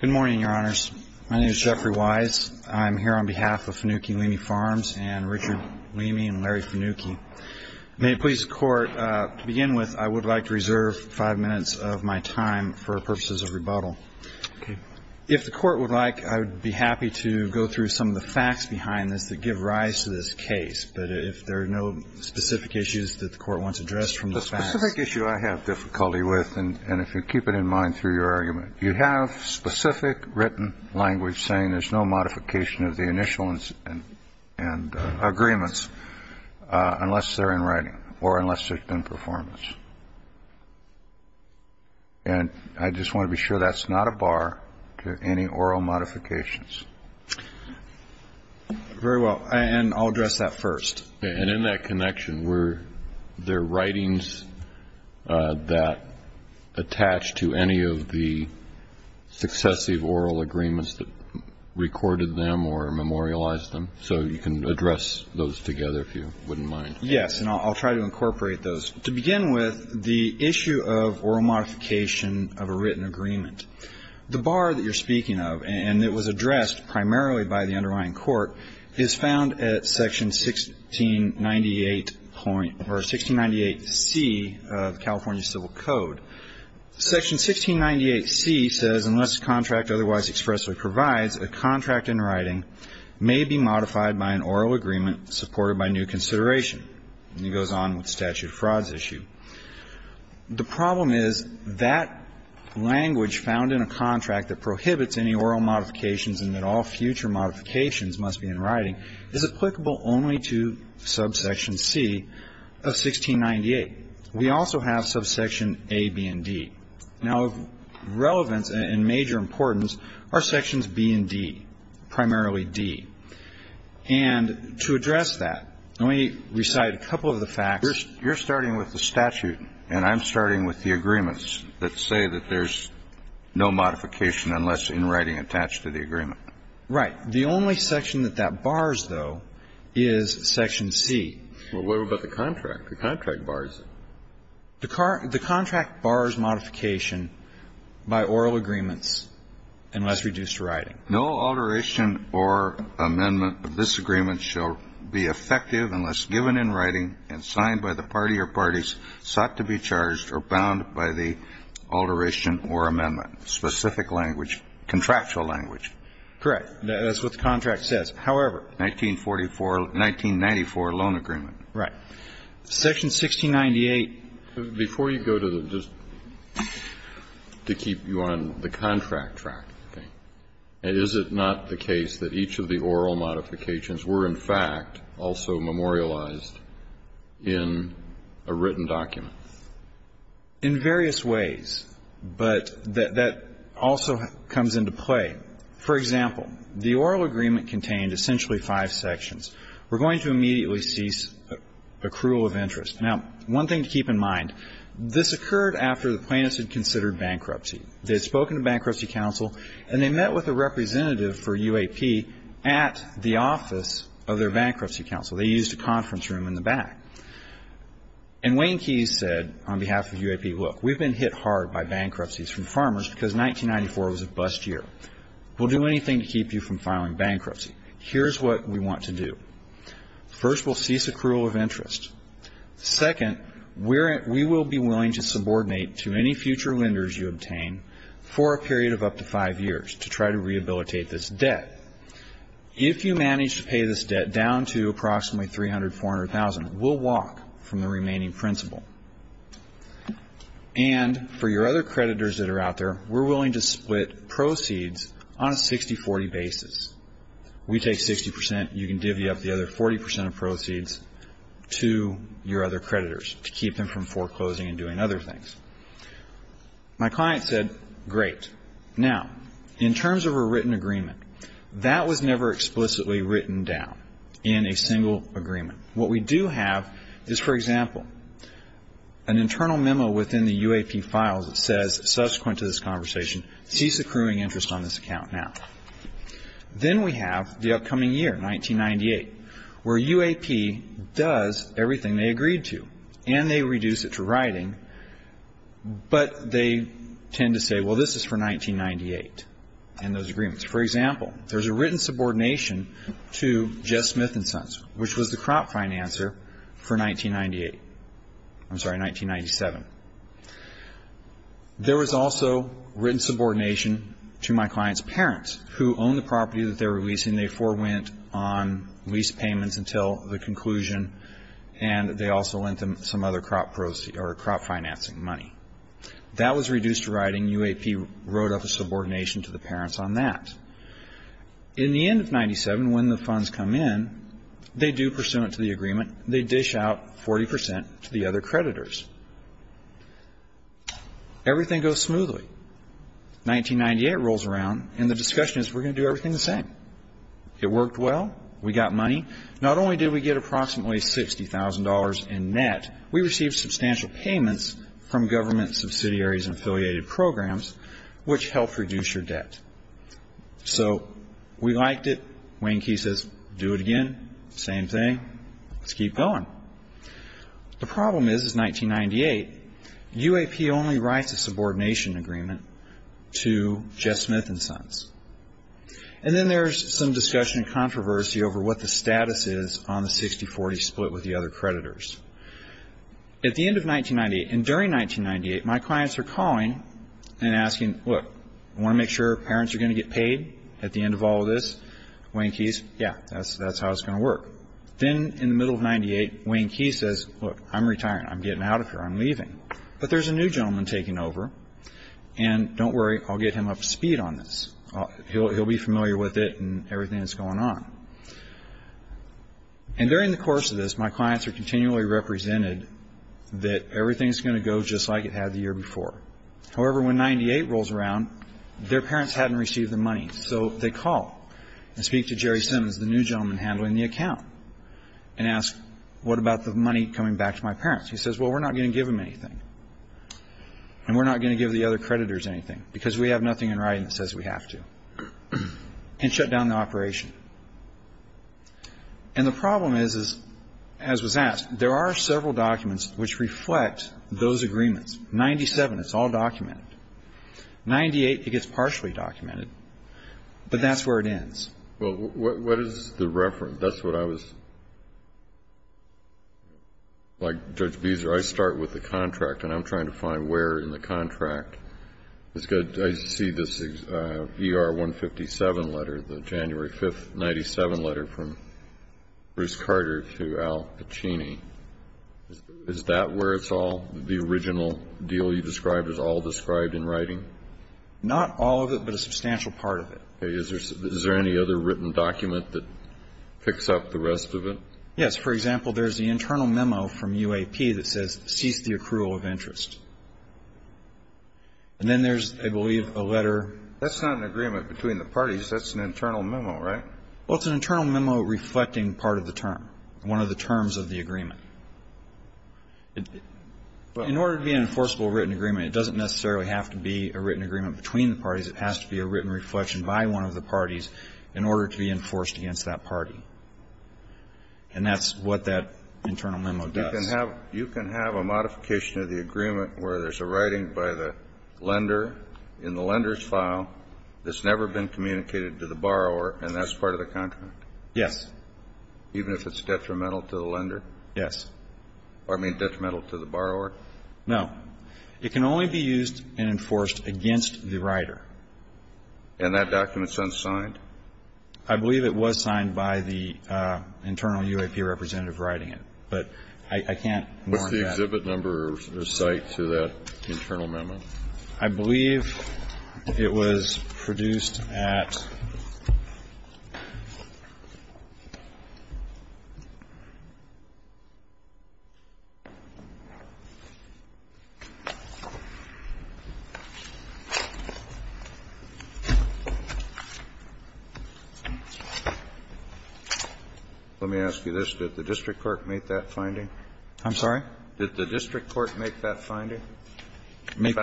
Good morning, your honors. My name is Jeffrey Wise. I'm here on behalf of Fanucchi Leamy Farms and Richard Leamy and Larry Fanucchi. May it please the court, to begin with, I would like to reserve five minutes of my time for purposes of rebuttal. If the court would like, I would be happy to go through some of the facts behind this that give rise to this case, but if there are no specific issues that the court wants addressed from the facts. The specific issue I have difficulty with, and if you keep it in mind through your argument, you have specific written language saying there's no modification of the initial agreements unless they're in writing or unless there's been performance. And I just want to be sure that's not a bar to any oral modifications. Very well. And I'll address that first. And in that connection, were there writings that attach to any of the successive oral agreements that recorded them or memorialized them? So you can address those together if you wouldn't mind. Yes, and I'll try to incorporate those. To begin with, the issue of oral modification of a written agreement, the bar that you're speaking of, and it was addressed primarily by the underlying court, is found at section 1698. Or 1698C of California Civil Code. Section 1698C says unless the contract otherwise expressly provides, a contract in writing may be modified by an oral agreement supported by new consideration. And it goes on with statute of frauds issue. The problem is that language found in a contract that prohibits any oral modifications and that all future modifications must be in writing is applicable only to subsection C of 1698. We also have subsection A, B, and D. Now of relevance and major importance are sections B and D, primarily D. And to address that, let me recite a couple of the facts. You're starting with the statute and I'm starting with the agreements that say that there's no modification unless in writing attached to the agreement. Right. The only section that that bars, though, is section C. What about the contract? The contract bars it. No alteration or amendment of this agreement shall be effective unless given in writing and signed by the party or parties sought to be charged or bound by the alteration or amendment. Specific language, contractual language. Correct. That's what the contract says. However. 1944 1994 loan agreement. Right. Section 1698. Before you go to the just to keep you on the contract track, is it not the case that each of the oral modifications were in fact also memorialized in a written document? In various ways. But that also comes into play. For example, the oral agreement contained essentially five sections. We're going to immediately cease accrual of interest. Now, one thing to keep in mind, this occurred after the plaintiffs had considered bankruptcy. They had spoken to bankruptcy counsel and they met with a representative for UAP at the office of their bankruptcy counsel. They used a conference room in the back. And Wayne Keyes said on behalf of UAP, look, we've been hit hard by bankruptcies from farmers because 1994 was a bust year. We'll do anything to keep you from filing bankruptcy. Here's what we want to do. First, we'll cease accrual of interest. Second, we will be willing to subordinate to any future lenders you obtain for a period of up to five years to try to rehabilitate this debt. If you manage to pay this debt down to approximately $300,000, $400,000, we'll walk from the remaining principle. And for your other creditors that are out there, we're willing to split proceeds on a 60-40 basis. We take 60%. You can divvy up the other 40% of proceeds to your other creditors to keep them from foreclosing and doing other things. My client said, great. Now, in terms of a written agreement, that was never explicitly written down in a single agreement. What we do have is, for example, an internal memo within the UAP files that says, subsequent to this conversation, cease accruing interest on this account now. Then we have the upcoming year, 1998, where UAP does everything they agreed to, and they reduce it to writing, but they tend to say, well, this is for 1998 and those agreements. For example, there's a written subordination to Jeff Smith & Sons, which was the crop financer for 1998. I'm sorry, 1997. There was also written subordination to my client's parents, who owned the property that they were leasing. They forewent on lease payments until the conclusion, and they also lent them some other crop financing money. That was reduced to writing. UAP wrote up a subordination to the parents on that. In the end of 1997, when the funds come in, they do pursue it to the agreement. They dish out 40% to the other creditors. Everything goes smoothly. 1998 rolls around, and the discussion is, we're going to do everything the same. It worked well. We got money. Not only did we get approximately $60,000 in net, we received substantial payments from government subsidiaries and affiliated programs, which helped reduce your debt. So we liked it. Wayne Key says, do it again. Same thing. Let's keep going. The problem is, is 1998, UAP only writes a subordination agreement to Jeff Smith & Sons. And then there's some discussion and controversy over what the status is on the 60-40 split with the other creditors. At the end of 1998 and during 1998, my clients are calling and asking, look, I want to make sure parents are going to get paid at the end of all this. Wayne Key says, yeah, that's how it's going to work. Then in the middle of 1998, Wayne Key says, look, I'm retiring. I'm getting out of here. I'm leaving. But there's a new gentleman taking over, and don't worry, I'll get him up to speed on this. He'll be familiar with it and everything that's going on. And during the course of this, my clients are continually represented that everything's going to go just like it had the year before. However, when 1998 rolls around, their parents hadn't received the money, so they call and speak to Jerry Simmons, the new gentleman handling the account, and ask, what about the money coming back to my parents? He says, well, we're not going to give them anything, and we're not going to give the other creditors anything because we have nothing in writing that says we have to. And shut down the operation. And the problem is, as was asked, there are several documents which reflect those agreements. 97, it's all documented. 98, it gets partially documented. But that's where it ends. Well, what is the reference? That's what I was, like Judge Beezer, I start with the contract, and I'm trying to find where in the contract. I see this ER-157 letter, the January 5th, 97 letter from Bruce Carter to Al Pacini. Is that where it's all, the original deal you described is all described in writing? Not all of it, but a substantial part of it. Is there any other written document that picks up the rest of it? Yes. For example, there's the internal memo from UAP that says cease the accrual of interest. And then there's, I believe, a letter. That's not an agreement between the parties. That's an internal memo, right? Well, it's an internal memo reflecting part of the term, one of the terms of the agreement. In order to be an enforceable written agreement, it doesn't necessarily have to be a written agreement between the parties. It has to be a written reflection by one of the parties in order to be enforced against that party. And that's what that internal memo does. You can have a modification of the agreement where there's a writing by the lender in the lender's file that's never been communicated to the borrower, and that's part of the contract? Yes. Even if it's detrimental to the lender? Yes. I mean detrimental to the borrower? No. It can only be used and enforced against the writer. And that document's unsigned? I believe it was signed by the internal UAP representative writing it, but I can't warrant that. What's the exhibit number or site to that internal memo? I believe it was produced at. Let me ask you this. Did the district court make that finding? I'm sorry? Did the district court make that finding? With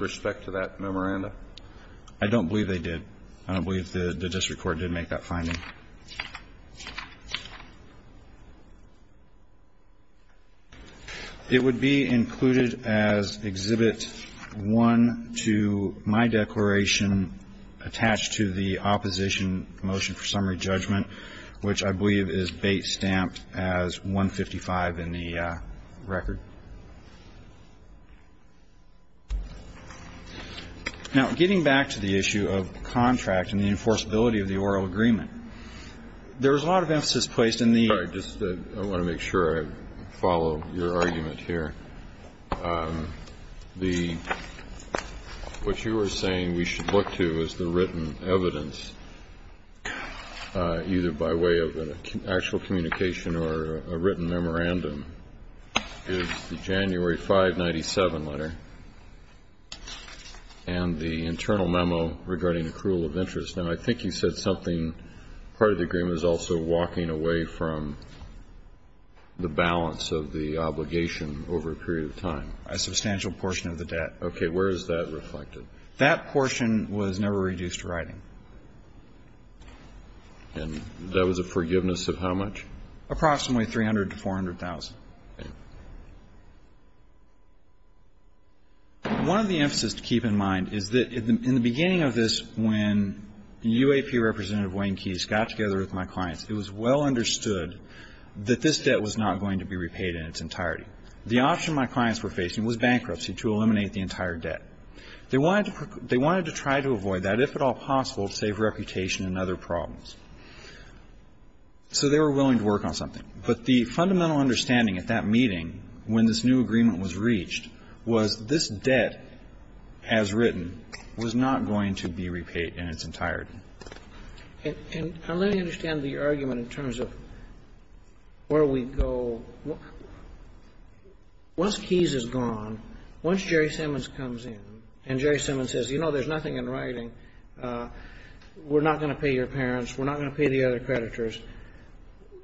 respect to that memoranda? I don't believe they did. I don't believe the district court did make that finding. It would be included as Exhibit 1 to my declaration attached to the opposition motion for summary judgment, which I believe is bait stamped as 155 in the record. Now, getting back to the issue of contract and the enforceability of the oral agreement, there was a lot of emphasis placed in the ---- All right. I want to make sure I follow your argument here. What you are saying we should look to is the written evidence, either by way of an actual communication or a written memorandum, is the January 597 letter and the internal memo regarding accrual of interest. Now, I think you said something, part of the agreement is also walking away from the balance of the obligation over a period of time. A substantial portion of the debt. Okay. Where is that reflected? That portion was never reduced to writing. And that was a forgiveness of how much? Approximately $300,000 to $400,000. Okay. One of the emphases to keep in mind is that in the beginning of this, when UAP Representative Wayne Keyes got together with my clients, it was well understood that this debt was not going to be repaid in its entirety. The option my clients were facing was bankruptcy to eliminate the entire debt. They wanted to try to avoid that, if at all possible, to save reputation and other problems. So they were willing to work on something. But the fundamental understanding at that meeting, when this new agreement was reached, was this debt, as written, was not going to be repaid in its entirety. And let me understand the argument in terms of where we go. Once Keyes is gone, once Jerry Simmons comes in and Jerry Simmons says, you know, there's nothing in writing, we're not going to pay your parents, we're not going to pay the other creditors,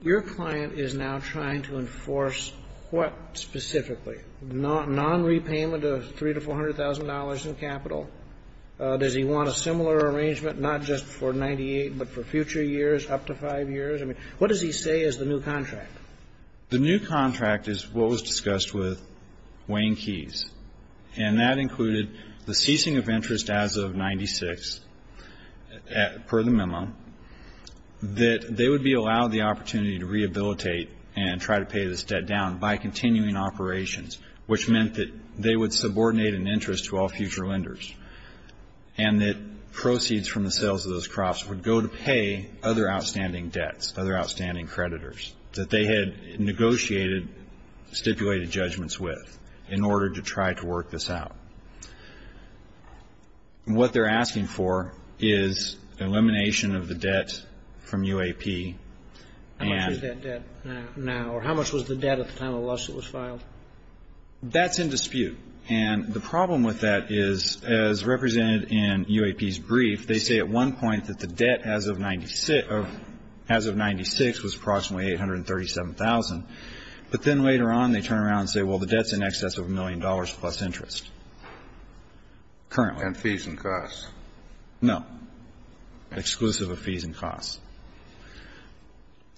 your client is now trying to enforce what specifically? Nonrepayment of $300,000 to $400,000 in capital? Does he want a similar arrangement, not just for 98, but for future years, up to 5 years? I mean, what does he say is the new contract? The new contract is what was discussed with Wayne Keyes, and that included the ceasing of interest as of 96, per the memo, that they would be allowed the opportunity to rehabilitate and try to pay this debt down by continuing operations, which meant that they would subordinate an interest to all future lenders, and that proceeds from the sales of those crops would go to pay other outstanding debts, other outstanding creditors that they had negotiated, stipulated judgments with in order to try to work this out. What they're asking for is elimination of the debt from UAP. How much is that debt now, or how much was the debt at the time the lawsuit was filed? That's in dispute, and the problem with that is, as represented in UAP's brief, they say at one point that the debt as of 96 was approximately $837,000, but then later on they turn around and say, well, the debt's in excess of a million dollars plus interest currently. And fees and costs. No. Exclusive of fees and costs.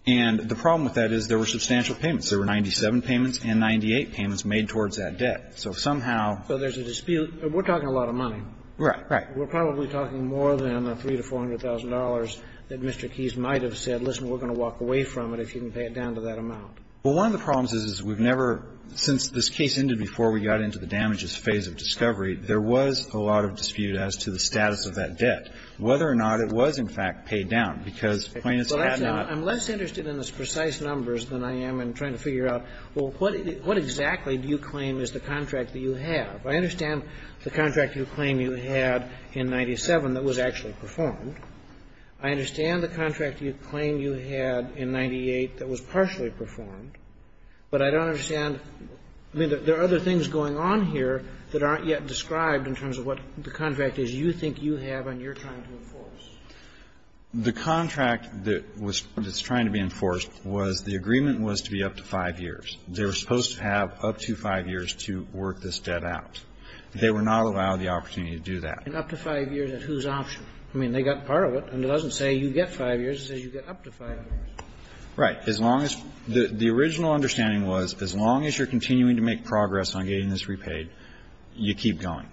And the problem with that is there were substantial payments. There were 97 payments and 98 payments made towards that debt. So if somehow there's a dispute. We're talking a lot of money. Right. We're probably talking more than the $300,000 to $400,000 that Mr. Keyes might have said, listen, we're going to walk away from it if you can pay it down to that amount. Well, one of the problems is we've never, since this case ended before we got into the damages phase of discovery, there was a lot of dispute as to the status of that debt, whether or not it was in fact paid down, because plaintiffs had not. I'm less interested in the precise numbers than I am in trying to figure out, well, what exactly do you claim is the contract that you have? I understand the contract you claim you had in 97 that was actually performed. I understand the contract you claim you had in 98 that was partially performed. But I don't understand. I mean, there are other things going on here that aren't yet described in terms of what the contract is you think you have and you're trying to enforce. The contract that was trying to be enforced was the agreement was to be up to 5 years. They were supposed to have up to 5 years to work this debt out. They were not allowed the opportunity to do that. And up to 5 years at whose option? I mean, they got part of it, and it doesn't say you get 5 years. It says you get up to 5 years. Right. As long as the original understanding was as long as you're continuing to make progress on getting this repaid, you keep going.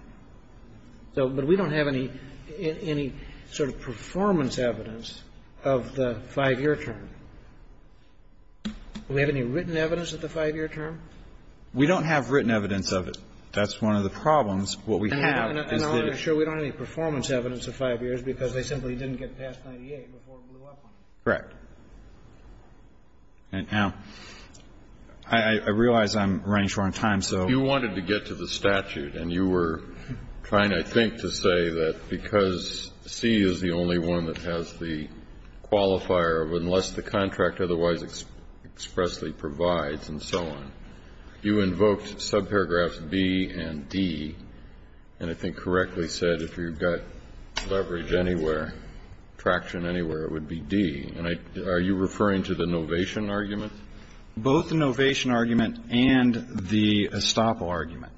But we don't have any sort of performance evidence of the 5-year term. Do we have any written evidence of the 5-year term? We don't have written evidence of it. That's one of the problems. What we have is that we don't have any performance evidence of 5 years because they simply didn't get past 98 before it blew up on them. Correct. Now, I realize I'm running short on time, so. If you wanted to get to the statute and you were trying, I think, to say that because C is the only one that has the qualifier of unless the contract otherwise expressly provides and so on, you invoked subparagraphs B and D, and I think correctly said if you've got leverage anywhere, traction anywhere, it would be D. And are you referring to the novation argument? Both the novation argument and the estoppel argument.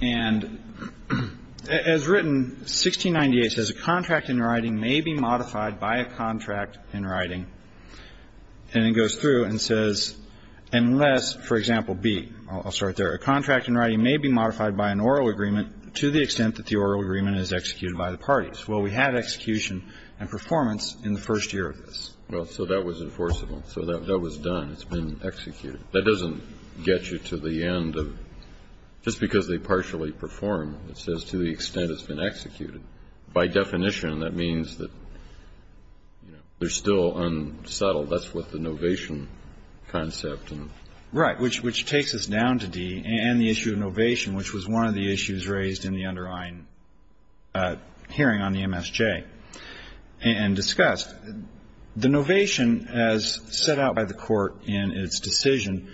And as written, 1698 says, A contract in writing may be modified by a contract in writing. And it goes through and says, unless, for example, B. I'll start there. A contract in writing may be modified by an oral agreement to the extent that the oral agreement is executed by the parties. Well, we had execution and performance in the first year of this. Well, so that was enforceable. So that was done. It's been executed. That doesn't get you to the end of just because they partially perform. It says to the extent it's been executed. By definition, that means that they're still unsettled. That's what the novation concept. Right, which takes us down to D and the issue of novation, which was one of the issues raised in the underlying hearing on the MSJ and discussed. The novation, as set out by the Court in its decision,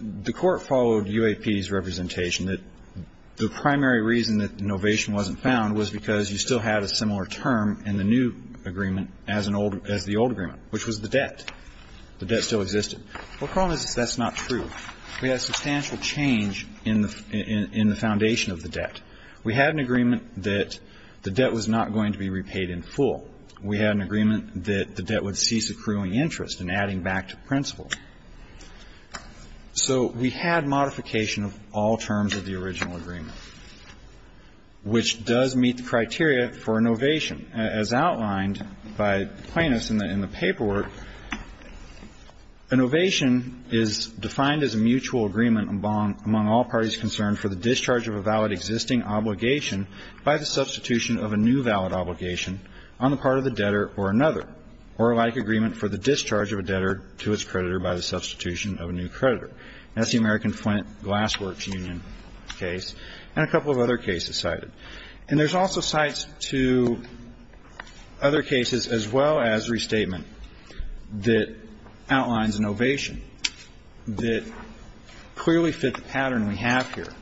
the Court followed UAP's representation that the primary reason that novation wasn't found was because you still had a similar term in the new agreement as the old agreement, which was the debt. The debt still existed. The problem is that that's not true. We had substantial change in the foundation of the debt. We had an agreement that the debt was not going to be repaid in full. We had an agreement that the debt would cease accruing interest and adding back to principal. So we had modification of all terms of the original agreement, which does meet the criteria for novation. As outlined by plaintiffs in the paperwork, novation is defined as a mutual agreement among all parties concerned for the discharge of a valid existing obligation by the substitution of a new valid obligation on the part of the debtor or another, or a like agreement for the discharge of a debtor to its creditor by the substitution of a new creditor. That's the American Flint Glass Works Union case and a couple of other cases cited. And there's also sites to other cases as well as restatement that outlines novation that clearly fit the pattern we have here.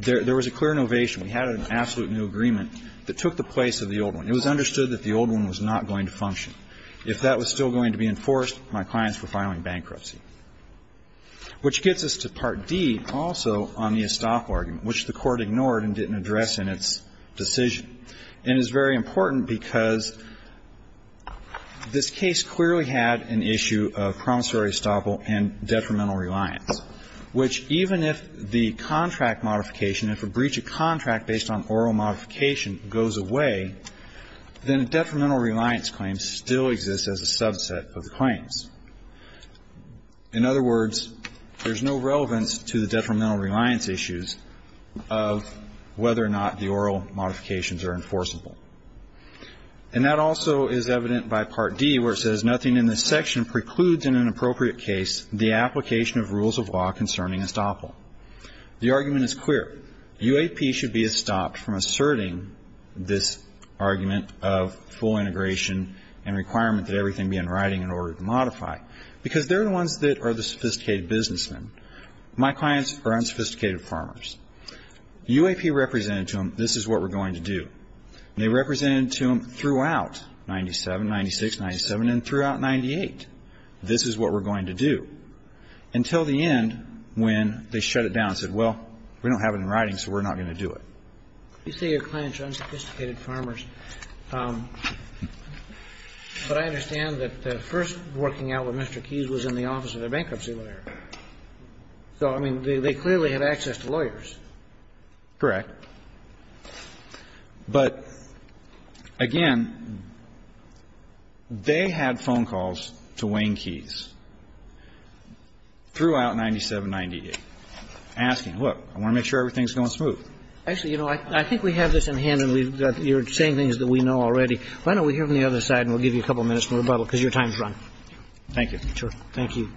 There was a clear novation. We had an absolute new agreement that took the place of the old one. It was understood that the old one was not going to function. If that was still going to be enforced, my clients were filing bankruptcy, which gets us to Part D also on the estoppel argument, which the Court ignored and didn't address in its decision. And it's very important because this case clearly had an issue of promissory estoppel and detrimental reliance, which even if the contract modification, if a breach of contract based on oral modification goes away, then detrimental reliance claims still exist as a subset of the claims. In other words, there's no relevance to the detrimental reliance issues of whether or not the oral modifications are enforceable. And that also is evident by Part D where it says, nothing in this section precludes in an appropriate case the application of rules of law concerning estoppel. The argument is clear. UAP should be stopped from asserting this argument of full integration and requirement that everything be in writing in order to modify because they're the ones that are the sophisticated businessmen. My clients are unsophisticated farmers. UAP represented to them this is what we're going to do. They represented to them throughout 97, 96, 97, and throughout 98, this is what we're going to do, until the end when they shut it down and said, well, we don't have it in writing, so we're not going to do it. You say your clients are unsophisticated farmers, but I understand that the first working out with Mr. Keyes was in the office of the bankruptcy lawyer. So, I mean, they clearly had access to lawyers. Correct. But, again, they had phone calls to Wayne Keyes throughout 97, 98, asking, look, I want to make sure everything's going smooth. Actually, you know, I think we have this in hand and we've got your saying things that we know already. Why don't we hear from the other side and we'll give you a couple minutes for rebuttal because your time's run. Thank you. Thank you.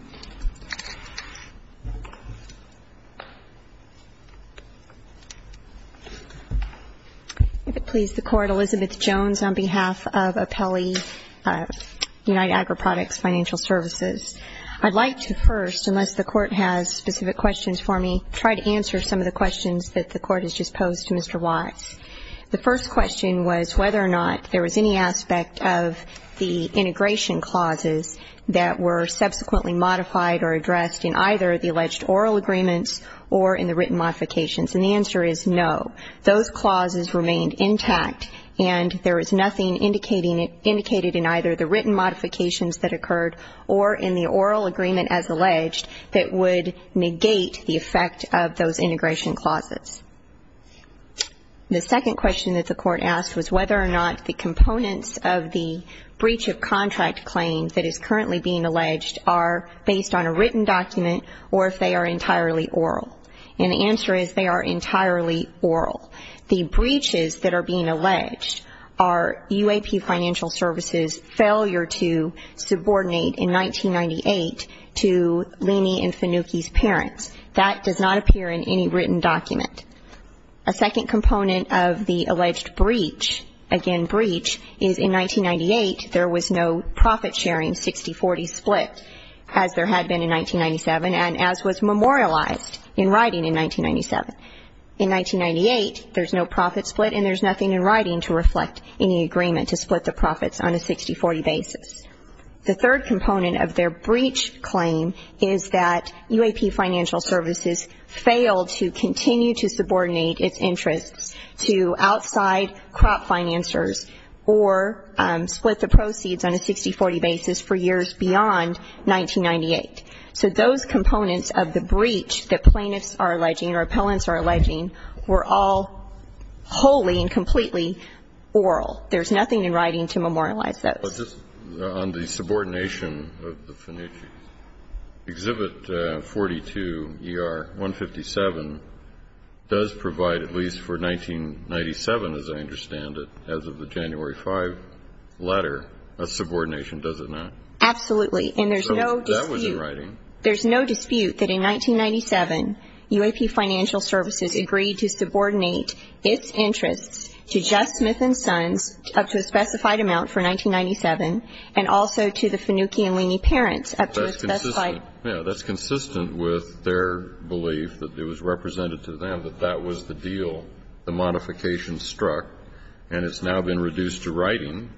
If it please the Court, Elizabeth Jones on behalf of Apelli Unite Agri Products Financial Services. I'd like to first, unless the Court has specific questions for me, try to answer some of the questions that the Court has just posed to Mr. Watts. The first question was whether or not there was any aspect of the integration clauses that were subsequently modified or addressed in either the alleged oral agreements or in the written modifications. And the answer is no. Those clauses remained intact and there was nothing indicated in either the written modifications that occurred or in the oral agreement as alleged that would negate the effect of those integration clauses. The second question that the Court asked was whether or not the components of the breach of contract claims that is currently being alleged are based on a written document or if they are entirely oral. And the answer is they are entirely oral. The breaches that are being alleged are UAP Financial Services' failure to subordinate in 1998 to Leaney and Finucchi's parents. That does not appear in any written document. A second component of the alleged breach, again breach, is in 1998 there was no profit-sharing 60-40 split as there had been in 1997 and as was memorialized in writing in 1997. In 1998 there's no profit split and there's nothing in writing to reflect any agreement to split the profits on a 60-40 basis. The third component of their breach claim is that UAP Financial Services failed to continue to subordinate its interests to outside crop financers or split the proceeds on a 60-40 basis for years beyond 1998. So those components of the breach that plaintiffs are alleging or appellants are alleging were all wholly and completely oral. There's nothing in writing to memorialize those. On the subordination of the Finucchi's, Exhibit 42 ER 157 does provide at least for 1997, as I understand it, as of the January 5 letter, a subordination, does it not? Absolutely. And there's no dispute. That was in writing. There's no dispute that in 1997 UAP Financial Services agreed to subordinate its interests to and also to the Finucchi and Lieny parents. That's consistent with their belief that it was represented to them that that was the deal. The modification struck and it's now been reduced to writing.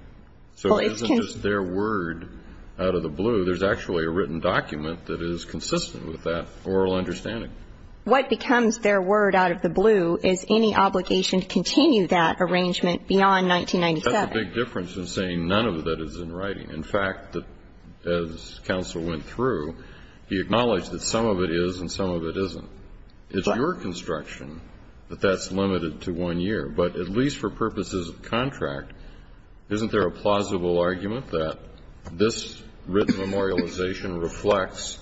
So it isn't just their word out of the blue. There's actually a written document that is consistent with that oral understanding. What becomes their word out of the blue is any obligation to continue that arrangement beyond 1997. But that's a big difference in saying none of that is in writing. In fact, as counsel went through, he acknowledged that some of it is and some of it isn't. It's your construction that that's limited to one year. But at least for purposes of contract, isn't there a plausible argument that this written memorialization reflects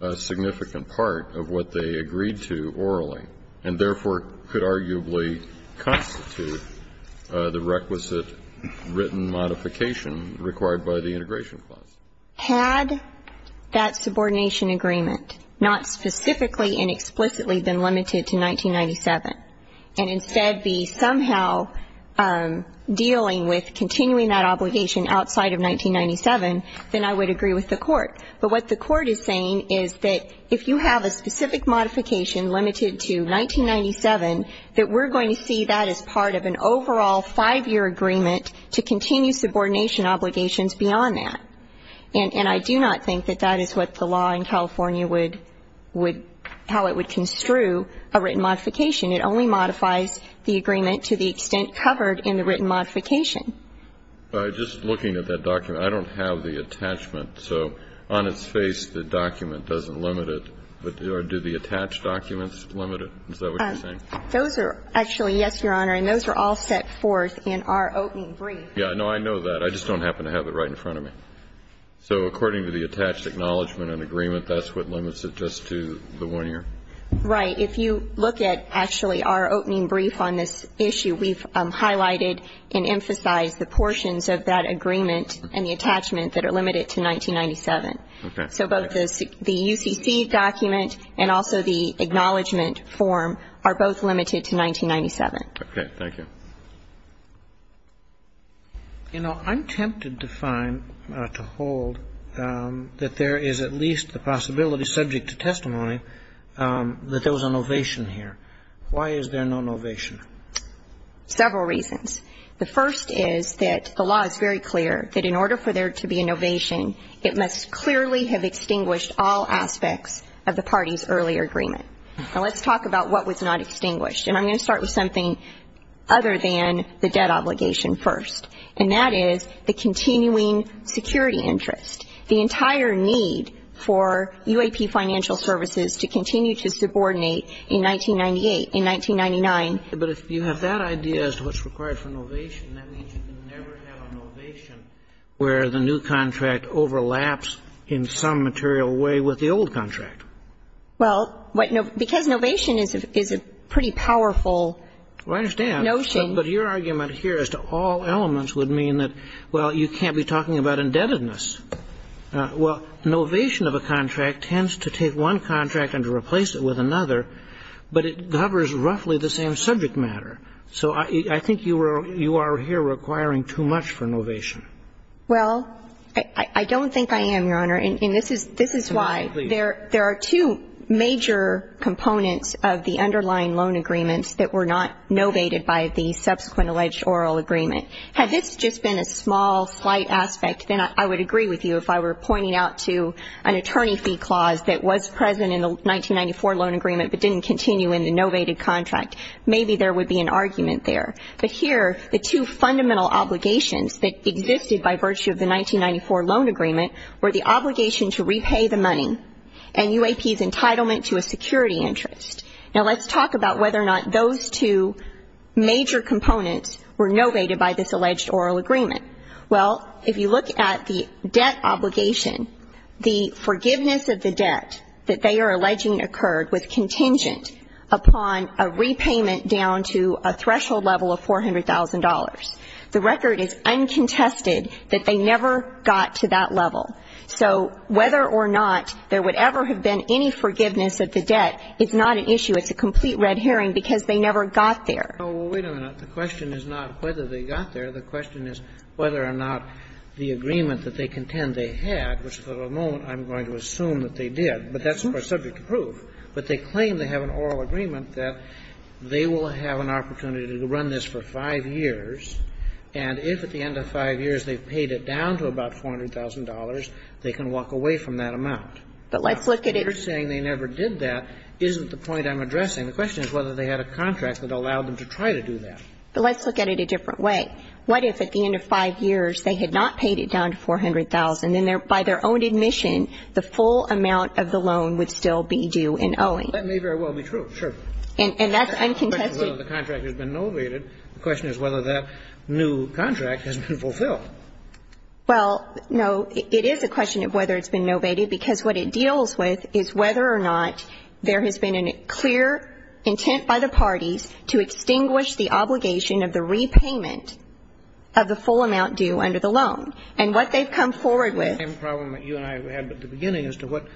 a significant part of what they agreed to orally and therefore could arguably constitute the requisite written modification required by the integration clause? Had that subordination agreement not specifically and explicitly been limited to 1997 and instead be somehow dealing with continuing that obligation outside of 1997, but what the court is saying is that if you have a specific modification limited to 1997, that we're going to see that as part of an overall five-year agreement to continue subordination obligations beyond that. And I do not think that that is what the law in California would how it would construe a written modification. It only modifies the agreement to the extent covered in the written modification. Just looking at that document, I don't have the attachment. So on its face, the document doesn't limit it. But do the attached documents limit it? Is that what you're saying? Those are actually, yes, Your Honor. And those are all set forth in our opening brief. Yeah. No, I know that. I just don't happen to have it right in front of me. So according to the attached acknowledgment and agreement, that's what limits it just to the one year? Right. If you look at actually our opening brief on this issue, we've highlighted and emphasized the portions of that agreement and the attachment that are limited to 1997. Okay. So both the UCC document and also the acknowledgment form are both limited to 1997. Okay. Thank you. You know, I'm tempted to find, to hold, that there is at least the possibility, subject to testimony, that there was an ovation here. Why is there no ovation? Several reasons. The first is that the law is very clear that in order for there to be an ovation, it must clearly have extinguished all aspects of the party's earlier agreement. Now, let's talk about what was not extinguished. And I'm going to start with something other than the debt obligation first, and that is the continuing security interest. The entire need for UAP financial services to continue to subordinate in 1998, in 1999. But if you have that idea as to what's required for an ovation, that means you can never have an ovation where the new contract overlaps in some material way with the old contract. Well, because an ovation is a pretty powerful notion. I understand. But your argument here as to all elements would mean that, well, you can't be talking about indebtedness. Well, an ovation of a contract tends to take one contract and to replace it with another, but it covers roughly the same subject matter. So I think you are here requiring too much for an ovation. Well, I don't think I am, Your Honor. And this is why there are two major components of the underlying loan agreements that were not novated by the subsequent alleged oral agreement. Had this just been a small, slight aspect, then I would agree with you if I were pointing out to an attorney fee clause that was present in the 1994 loan agreement but didn't continue in the novated contract. Maybe there would be an argument there. But here, the two fundamental obligations that existed by virtue of the 1994 loan agreement were the obligation to repay the money and UAP's entitlement to a security interest. Now, let's talk about whether or not those two major components were novated by this alleged oral agreement. Well, if you look at the debt obligation, the forgiveness of the debt that they are alleging occurred was contingent upon a repayment down to a threshold level of $400,000. The record is uncontested that they never got to that level. So whether or not there would ever have been any forgiveness of the debt is not an issue. It's a complete red herring because they never got there. Well, wait a minute. The question is not whether they got there. The question is whether or not the agreement that they contend they had, which for the moment I'm going to assume that they did, but that's subject to proof, but they claim they have an oral agreement that they will have an opportunity to run this for 5 years, and if at the end of 5 years they've paid it down to about $400,000, they can walk away from that amount. But let's look at it. If they're saying they never did that, isn't the point I'm addressing? The question is whether they had a contract that allowed them to try to do that. But let's look at it a different way. What if at the end of 5 years they had not paid it down to $400,000, and then by their own admission, the full amount of the loan would still be due in owing? That may very well be true, sure. And that's uncontested. The question is whether the contract has been novated. The question is whether that new contract has been fulfilled. Well, no, it is a question of whether it's been novated, because what it deals with is whether or not there has been a clear intent by the parties to extinguish the obligation of the repayment of the full amount due under the loan. And what they've come forward with ---- The same problem that you and I had at the beginning as to what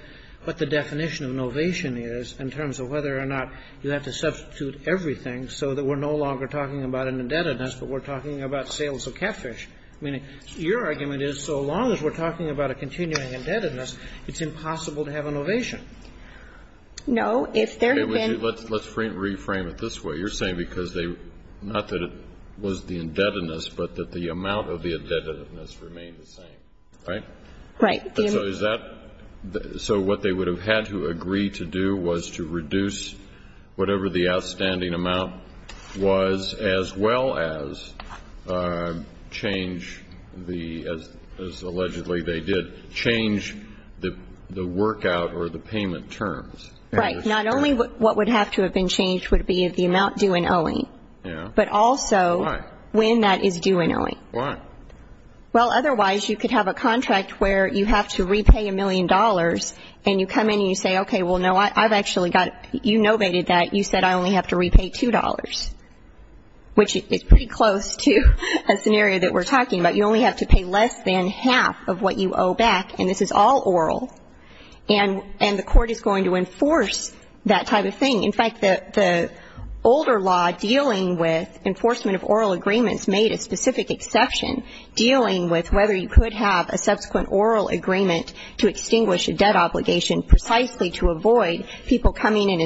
the definition of novation is in terms of whether or not you have to substitute everything so that we're no longer talking about an indebtedness, but we're talking about sales of catfish, meaning your argument is so long as we're talking about a continuing indebtedness, it's impossible to have a novation. No. If there had been ---- Let's reframe it this way. You're saying because they ---- not that it was the indebtedness, but that the amount of the indebtedness remained the same, right? Right. So is that ---- so what they would have had to agree to do was to reduce whatever the outstanding amount was as well as change the ---- as allegedly they did, change the work out or the payment terms. Right. Not only what would have to have been changed would be the amount due in owing. Yeah. But also ---- Why? When that is due in owing. Why? Well, otherwise you could have a contract where you have to repay a million dollars and you come in and you say, okay, well, no, I've actually got ---- you novated that. You said I only have to repay $2, which is pretty close to a scenario that we're talking about. You only have to pay less than half of what you owe back, and this is all oral, and the court is going to enforce that type of thing. In fact, the older law dealing with enforcement of oral agreements made a specific exception dealing with whether you could have a subsequent oral agreement to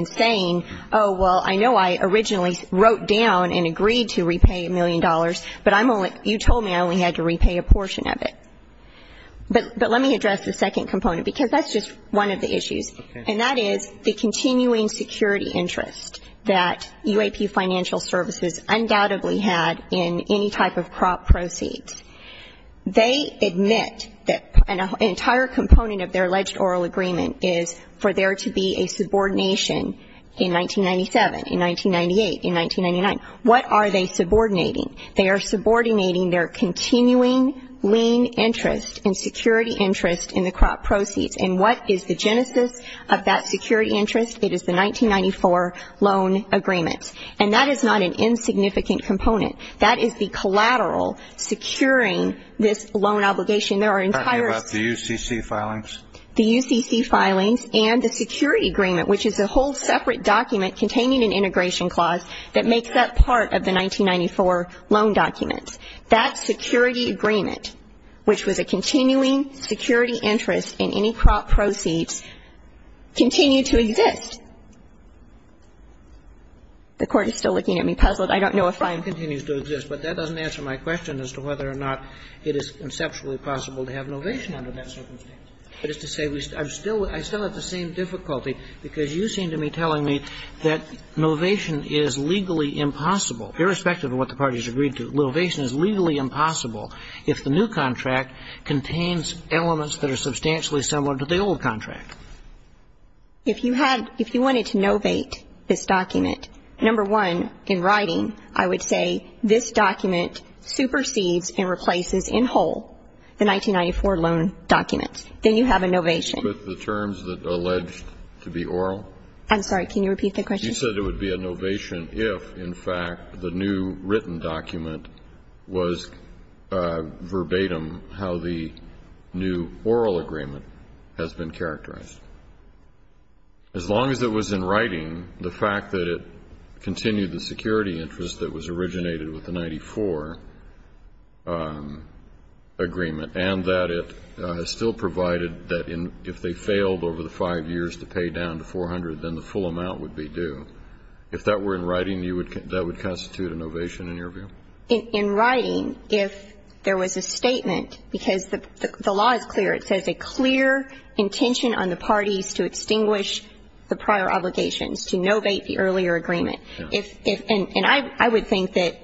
say, oh, well, I know I originally wrote down and agreed to repay a million dollars, but I'm only ---- you told me I only had to repay a portion of it. But let me address the second component, because that's just one of the issues, and that is the continuing security interest that UAP financial services undoubtedly had in any type of crop proceeds. They admit that an entire component of their alleged oral agreement is for there to be a subordination in 1997, in 1998, in 1999. What are they subordinating? They are subordinating their continuing lien interest and security interest in the crop proceeds. And what is the genesis of that security interest? It is the 1994 loan agreement. And that is not an insignificant component. That is the collateral securing this loan obligation. There are entire ---- Are you talking about the UCC filings? The UCC filings and the security agreement, which is a whole separate document containing an integration clause that makes up part of the 1994 loan documents. That security agreement, which was a continuing security interest in any crop proceeds, continued to exist. The Court is still looking at me puzzled. I don't know if I'm ---- It continues to exist, but that doesn't answer my question as to whether or not it I still have the same difficulty, because you seem to be telling me that novation is legally impossible, irrespective of what the parties agreed to. Novation is legally impossible if the new contract contains elements that are substantially similar to the old contract. If you had ---- if you wanted to novate this document, number one, in writing, I would say this document supersedes and replaces in whole the 1994 loan documents. Then you have a novation. With the terms that are alleged to be oral? I'm sorry. Can you repeat the question? You said it would be a novation if, in fact, the new written document was verbatim how the new oral agreement has been characterized. As long as it was in writing, the fact that it continued the security interest that was originated with the 1994 agreement and that it still provided that if they failed over the five years to pay down to 400, then the full amount would be due, if that were in writing, that would constitute a novation in your view? In writing, if there was a statement, because the law is clear. It says a clear intention on the parties to extinguish the prior obligations, to novate the earlier agreement. And I would think that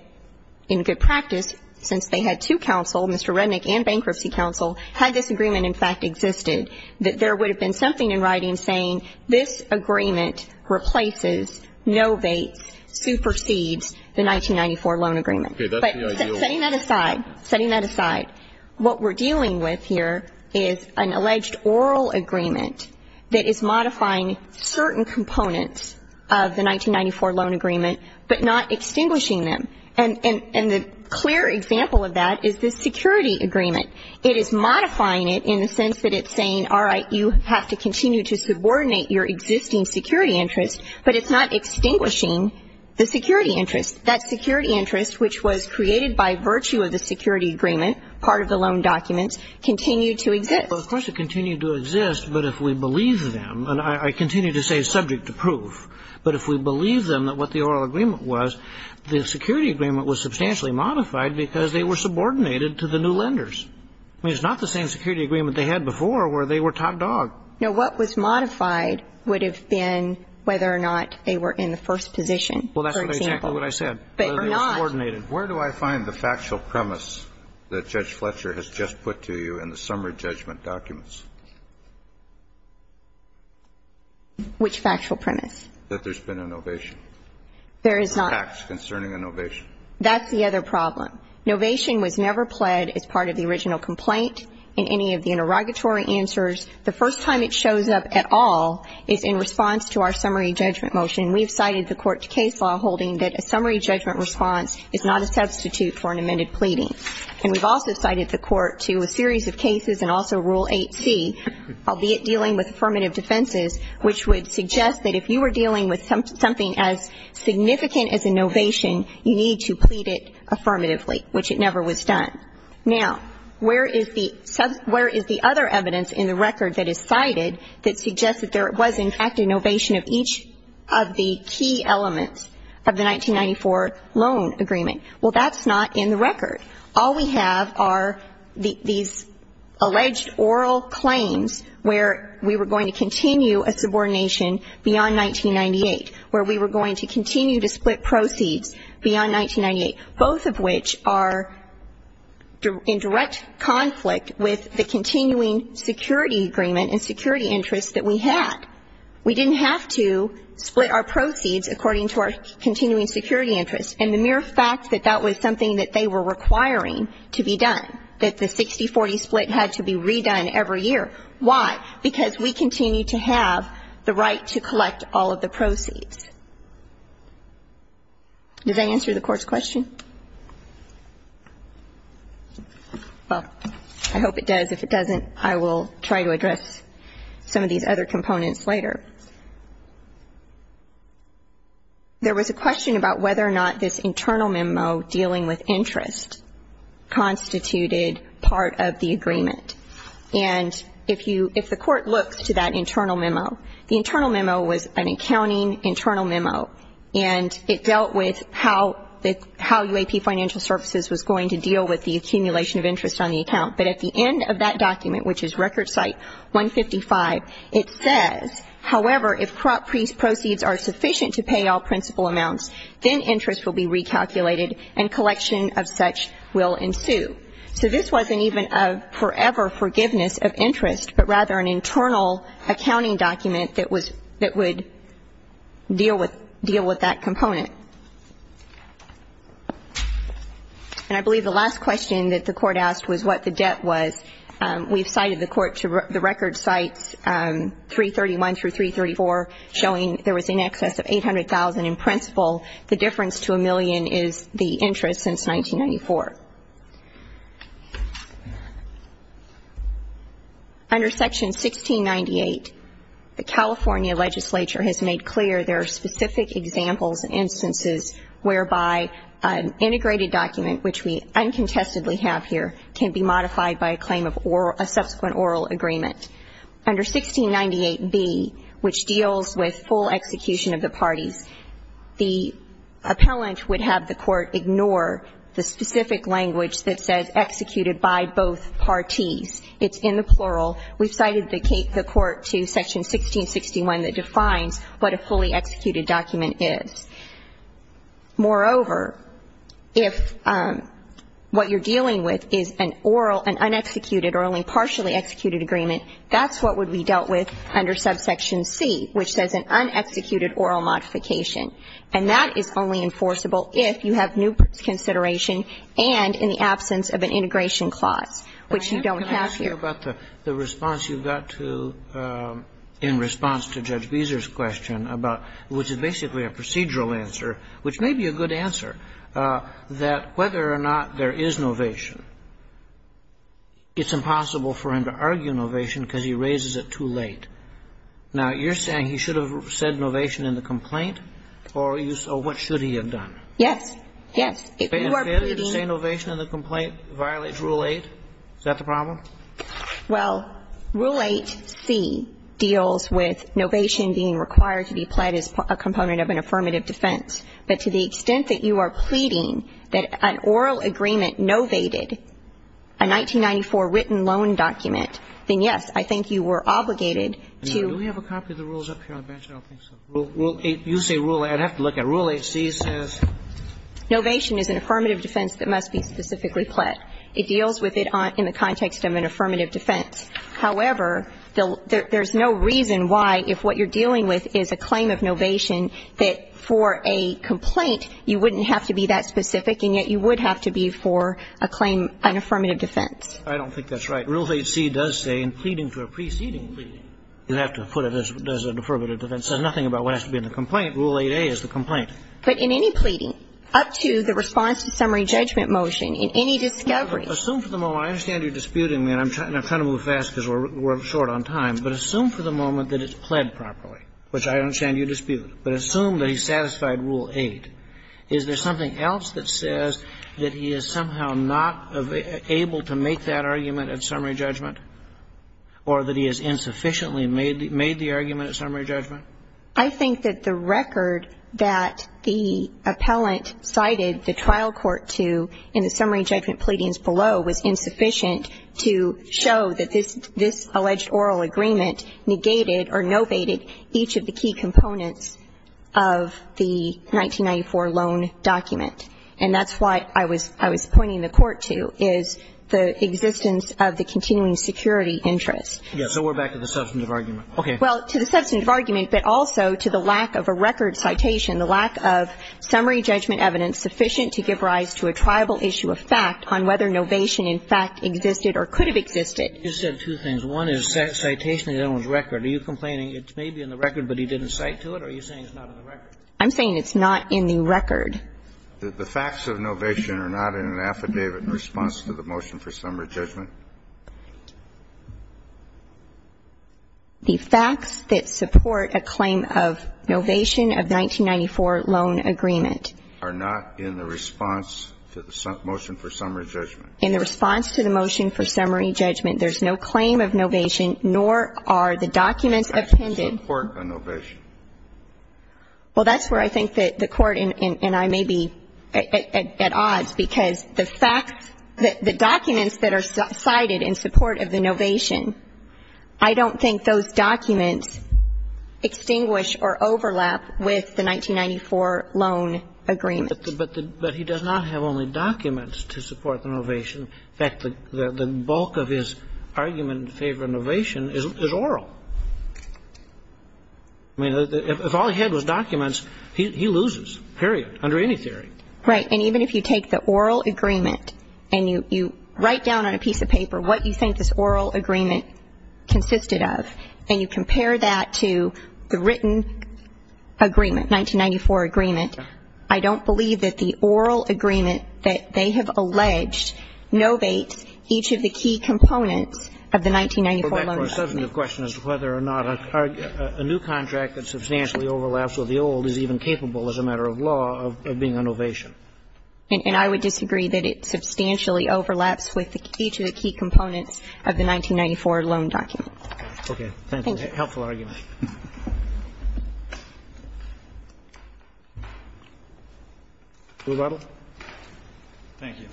in good practice, since they had two counsel, Mr. Rednick and Bankruptcy Counsel, had this agreement, in fact, existed, that there would have been something in writing saying this agreement replaces, novates, supersedes the 1994 loan agreement. But setting that aside, setting that aside, what we're dealing with here is an alleged oral agreement that is modifying certain components of the 1994 loan agreement, but not extinguishing them. And the clear example of that is the security agreement. It is modifying it in the sense that it's saying, all right, you have to continue to subordinate your existing security interest, but it's not extinguishing the security interest. That security interest, which was created by virtue of the security agreement, part of the loan documents, continued to exist. Well, of course it continued to exist, but if we believe them, and I continue to say subject to proof, but if we believe them that what the oral agreement was, the security agreement was substantially modified because they were subordinated to the new lenders. I mean, it's not the same security agreement they had before where they were top dog. Now, what was modified would have been whether or not they were in the first position, for example. Well, that's exactly what I said. They were not. They were subordinated. And where do I find the factual premise that Judge Fletcher has just put to you in the summary judgment documents? Which factual premise? That there's been an ovation. There is not. Facts concerning an ovation. That's the other problem. An ovation was never pled as part of the original complaint in any of the interrogatory answers. The first time it shows up at all is in response to our summary judgment motion. And we've cited the court's case law holding that a summary judgment response is not a substitute for an amended pleading. And we've also cited the court to a series of cases and also Rule 8c, albeit dealing with affirmative defenses, which would suggest that if you were dealing with something as significant as an ovation, you need to plead it affirmatively, which it never was done. Now, where is the other evidence in the record that is cited that suggests that there are some of the key elements of the 1994 loan agreement? Well, that's not in the record. All we have are these alleged oral claims where we were going to continue a subordination beyond 1998, where we were going to continue to split proceeds beyond 1998, both of which are in direct conflict with the continuing security agreement and security interests that we had. We didn't have to split our proceeds according to our continuing security interests. And the mere fact that that was something that they were requiring to be done, that the 60-40 split had to be redone every year, why? Because we continue to have the right to collect all of the proceeds. Does that answer the Court's question? Well, I hope it does. If it doesn't, I will try to address some of these other components later. There was a question about whether or not this internal memo dealing with interest constituted part of the agreement. And if the Court looks to that internal memo, the internal memo was an accounting internal memo, and it dealt with how UAP Financial Services was going to deal with the accumulation of interest on the account. But at the end of that document, which is record site 155, it says, however, if proceeds are sufficient to pay all principal amounts, then interest will be recalculated and collection of such will ensue. So this wasn't even a forever forgiveness of interest, but rather an internal accounting document that was that would deal with deal with that component. And I believe the last question that the Court asked was what the debt was. We've cited the Court to the record sites 331 through 334, showing there was in excess of $800,000 in principal. The difference to a million is the interest since 1994. Under Section 1698, the California legislature has made clear there are specific examples and instances whereby an integrated document, which we uncontestedly have here, can be modified by a claim of a subsequent oral agreement. Under 1698B, which deals with full execution of the parties, the appellant would have the Court ignore the specific language that says executed by both parties. It's in the plural. We've cited the Court to Section 1661 that defines what a fully executed document is. Moreover, if what you're dealing with is an oral, an un-executed or only partially executed agreement, that's what would be dealt with under Subsection C, which says an un-executed oral modification. And that is only enforceable if you have new consideration and in the absence of an integration clause, which you don't have here. And I'm just wondering about the response you got to in response to Judge Beezer's question about, which is basically a procedural answer, which may be a good answer, that whether or not there is novation, it's impossible for him to argue novation because he raises it too late. Now, you're saying he should have said novation in the complaint, or what should he have done? Yes. If you are pleading to say novation in the complaint violates Rule 8, is that the problem? Well, Rule 8C deals with novation being required to be pled as a component of an affirmative defense. But to the extent that you are pleading that an oral agreement novated a 1994 written loan document, then, yes, I think you were obligated to do that. Now, do we have a copy of the rules up here on the bench? I don't think so. You say Rule 8. I'd have to look at it. Rule 8C says? Novation is an affirmative defense that must be specifically pled. It deals with it in the context of an affirmative defense. However, there's no reason why, if what you're dealing with is a claim of novation, that for a complaint you wouldn't have to be that specific, and yet you would have to be for a claim, an affirmative defense. I don't think that's right. Rule 8C does say, in pleading to a preceding pleading, you have to put it as an affirmative defense. It says nothing about what has to be in the complaint. Rule 8A is the complaint. But in any pleading, up to the response to summary judgment motion, in any discovery Assume for the moment, I understand you're disputing me, and I'm trying to move fast because we're short on time, but assume for the moment that it's pled properly, which I understand you dispute, but assume that he satisfied Rule 8. Is there something else that says that he is somehow not able to make that argument at summary judgment or that he has insufficiently made the argument at summary judgment? I think that the record that the appellant cited the trial court to in the summary judgment pleadings below was insufficient to show that this alleged oral agreement negated or novated each of the key components of the 1994 loan document. And that's why I was pointing the court to, is the existence of the continuing security interest. Yes. So we're back to the substantive argument. Well, to the substantive argument, but also to the lack of a record citation, the lack of summary judgment evidence sufficient to give rise to a triable issue of fact on whether novation in fact existed or could have existed. You said two things. One is citation of the gentleman's record. Are you complaining it may be in the record, but he didn't cite to it, or are you saying it's not in the record? I'm saying it's not in the record. The facts of novation are not in an affidavit in response to the motion for summary judgment. The facts that support a claim of novation of the 1994 loan agreement are not in the response to the motion for summary judgment. In the response to the motion for summary judgment, there's no claim of novation, nor are the documents appended. The facts support a novation. Well, that's where I think that the Court and I may be at odds, because the facts that are cited in support of the novation, I don't think those documents extinguish or overlap with the 1994 loan agreement. But he does not have only documents to support the novation. In fact, the bulk of his argument in favor of novation is oral. I mean, if all he had was documents, he loses, period, under any theory. Right. And even if you take the oral agreement and you write down on a piece of paper what you think this oral agreement consisted of, and you compare that to the written agreement, 1994 agreement, I don't believe that the oral agreement that they have alleged novates each of the key components of the 1994 loan agreement. Well, therefore, a substantive question is whether or not a new contract that substantially And I would disagree that it substantially overlaps with each of the key components of the 1994 loan document. Thank you. Thank you. Helpful argument. Blue Bible. Thank you.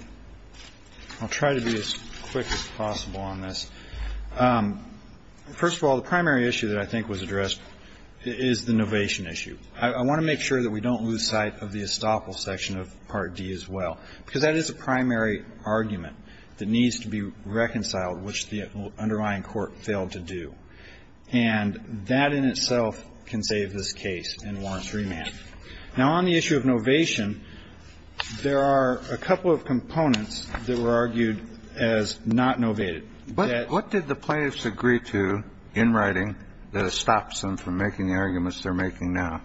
I'll try to be as quick as possible on this. First of all, the primary issue that I think was addressed is the novation issue. I want to make sure that we don't lose sight of the estoppel section of Part D as well, because that is a primary argument that needs to be reconciled, which the underlying court failed to do. And that in itself can save this case and warrants remand. Now, on the issue of novation, there are a couple of components that were argued as not novated. What did the plaintiffs agree to in writing that stops them from making the arguments they're making now?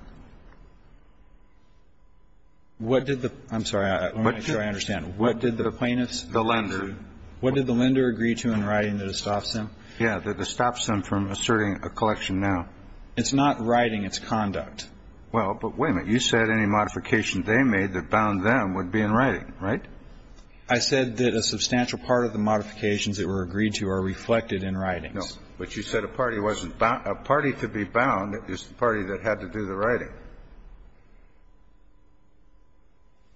I'm sorry. Let me make sure I understand. What did the plaintiffs agree to? The lender. What did the lender agree to in writing that it stops them? Yeah, that it stops them from asserting a collection now. It's not writing. It's conduct. Well, but wait a minute. You said any modification they made that bound them would be in writing, right? I said that a substantial part of the modifications that were agreed to are reflected in writings. No. But you said a party wasn't bound. A party to be bound is the party that had to do the writing.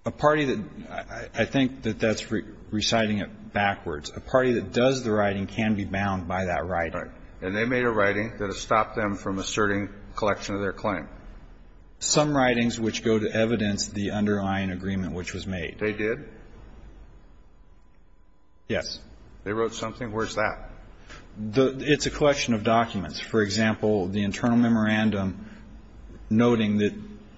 A party that – I think that that's reciting it backwards. A party that does the writing can be bound by that writing. Right. And they made a writing that has stopped them from asserting a collection of their claim. Some writings which go to evidence the underlying agreement which was made. They did? Yes. They wrote something? Where's that? It's a collection of documents. For example, the internal memorandum noting that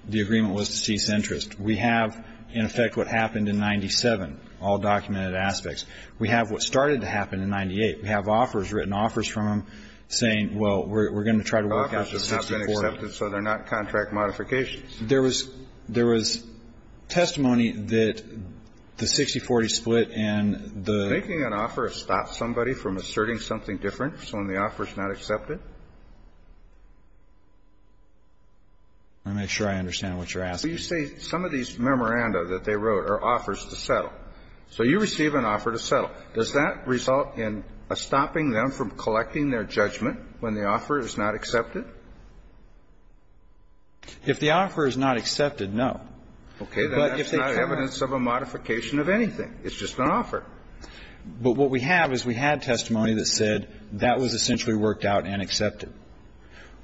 the agreement was to cease interest. We have, in effect, what happened in 97, all documented aspects. We have what started to happen in 98. We have offers, written offers from them saying, well, we're going to try to work out the 6040. Offers have not been accepted, so they're not contract modifications. There was testimony that the 6040 split and the – I'm not sure I understand what you're asking. You say some of these memoranda that they wrote are offers to settle. So you receive an offer to settle. Does that result in a stopping them from collecting their judgment when the offer is not accepted? If the offer is not accepted, no. Okay. That's not evidence of a modification of anything. It's just an offer. But what we have is we had testimony that said that was essentially worked out and accepted.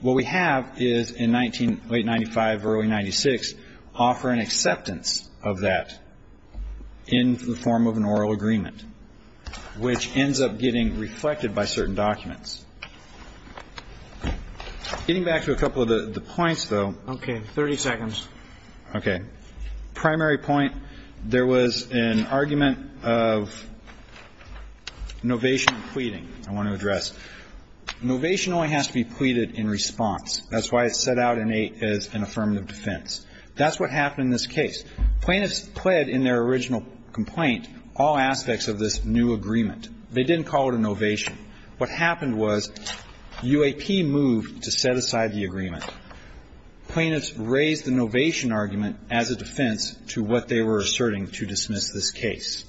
What we have is in late 95, early 96, offer and acceptance of that in the form of an oral agreement, which ends up getting reflected by certain documents. Getting back to a couple of the points, though. Okay. 30 seconds. Okay. Primary point. There was an argument of novation and pleading I want to address. Novation only has to be pleaded in response. That's why it's set out as an affirmative defense. That's what happened in this case. Plaintiffs pled in their original complaint all aspects of this new agreement. They didn't call it a novation. What happened was UAP moved to set aside the agreement. Plaintiffs raised the novation argument as a defense to what they were asserting to dismiss this case.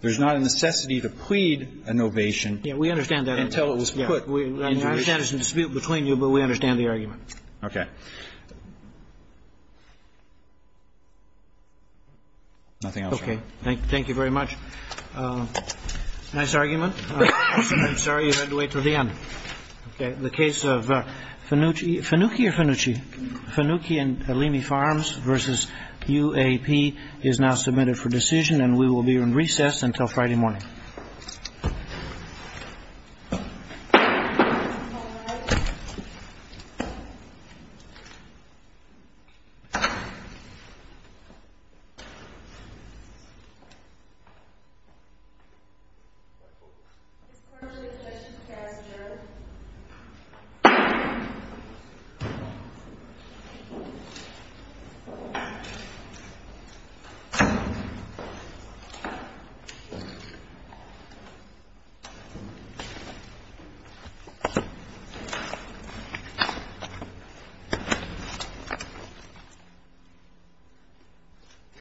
There's not a necessity to plead a novation until it was put into motion. We understand that. I understand there's a dispute between you, but we understand the argument. Okay. Nothing else? Okay. Thank you very much. Nice argument. I'm sorry you had to wait till the end. Okay. The case of Fanucchi and Alimi Farms versus UAP is now submitted for decision, and we will be in recess until Friday morning. Thank you. Thank you.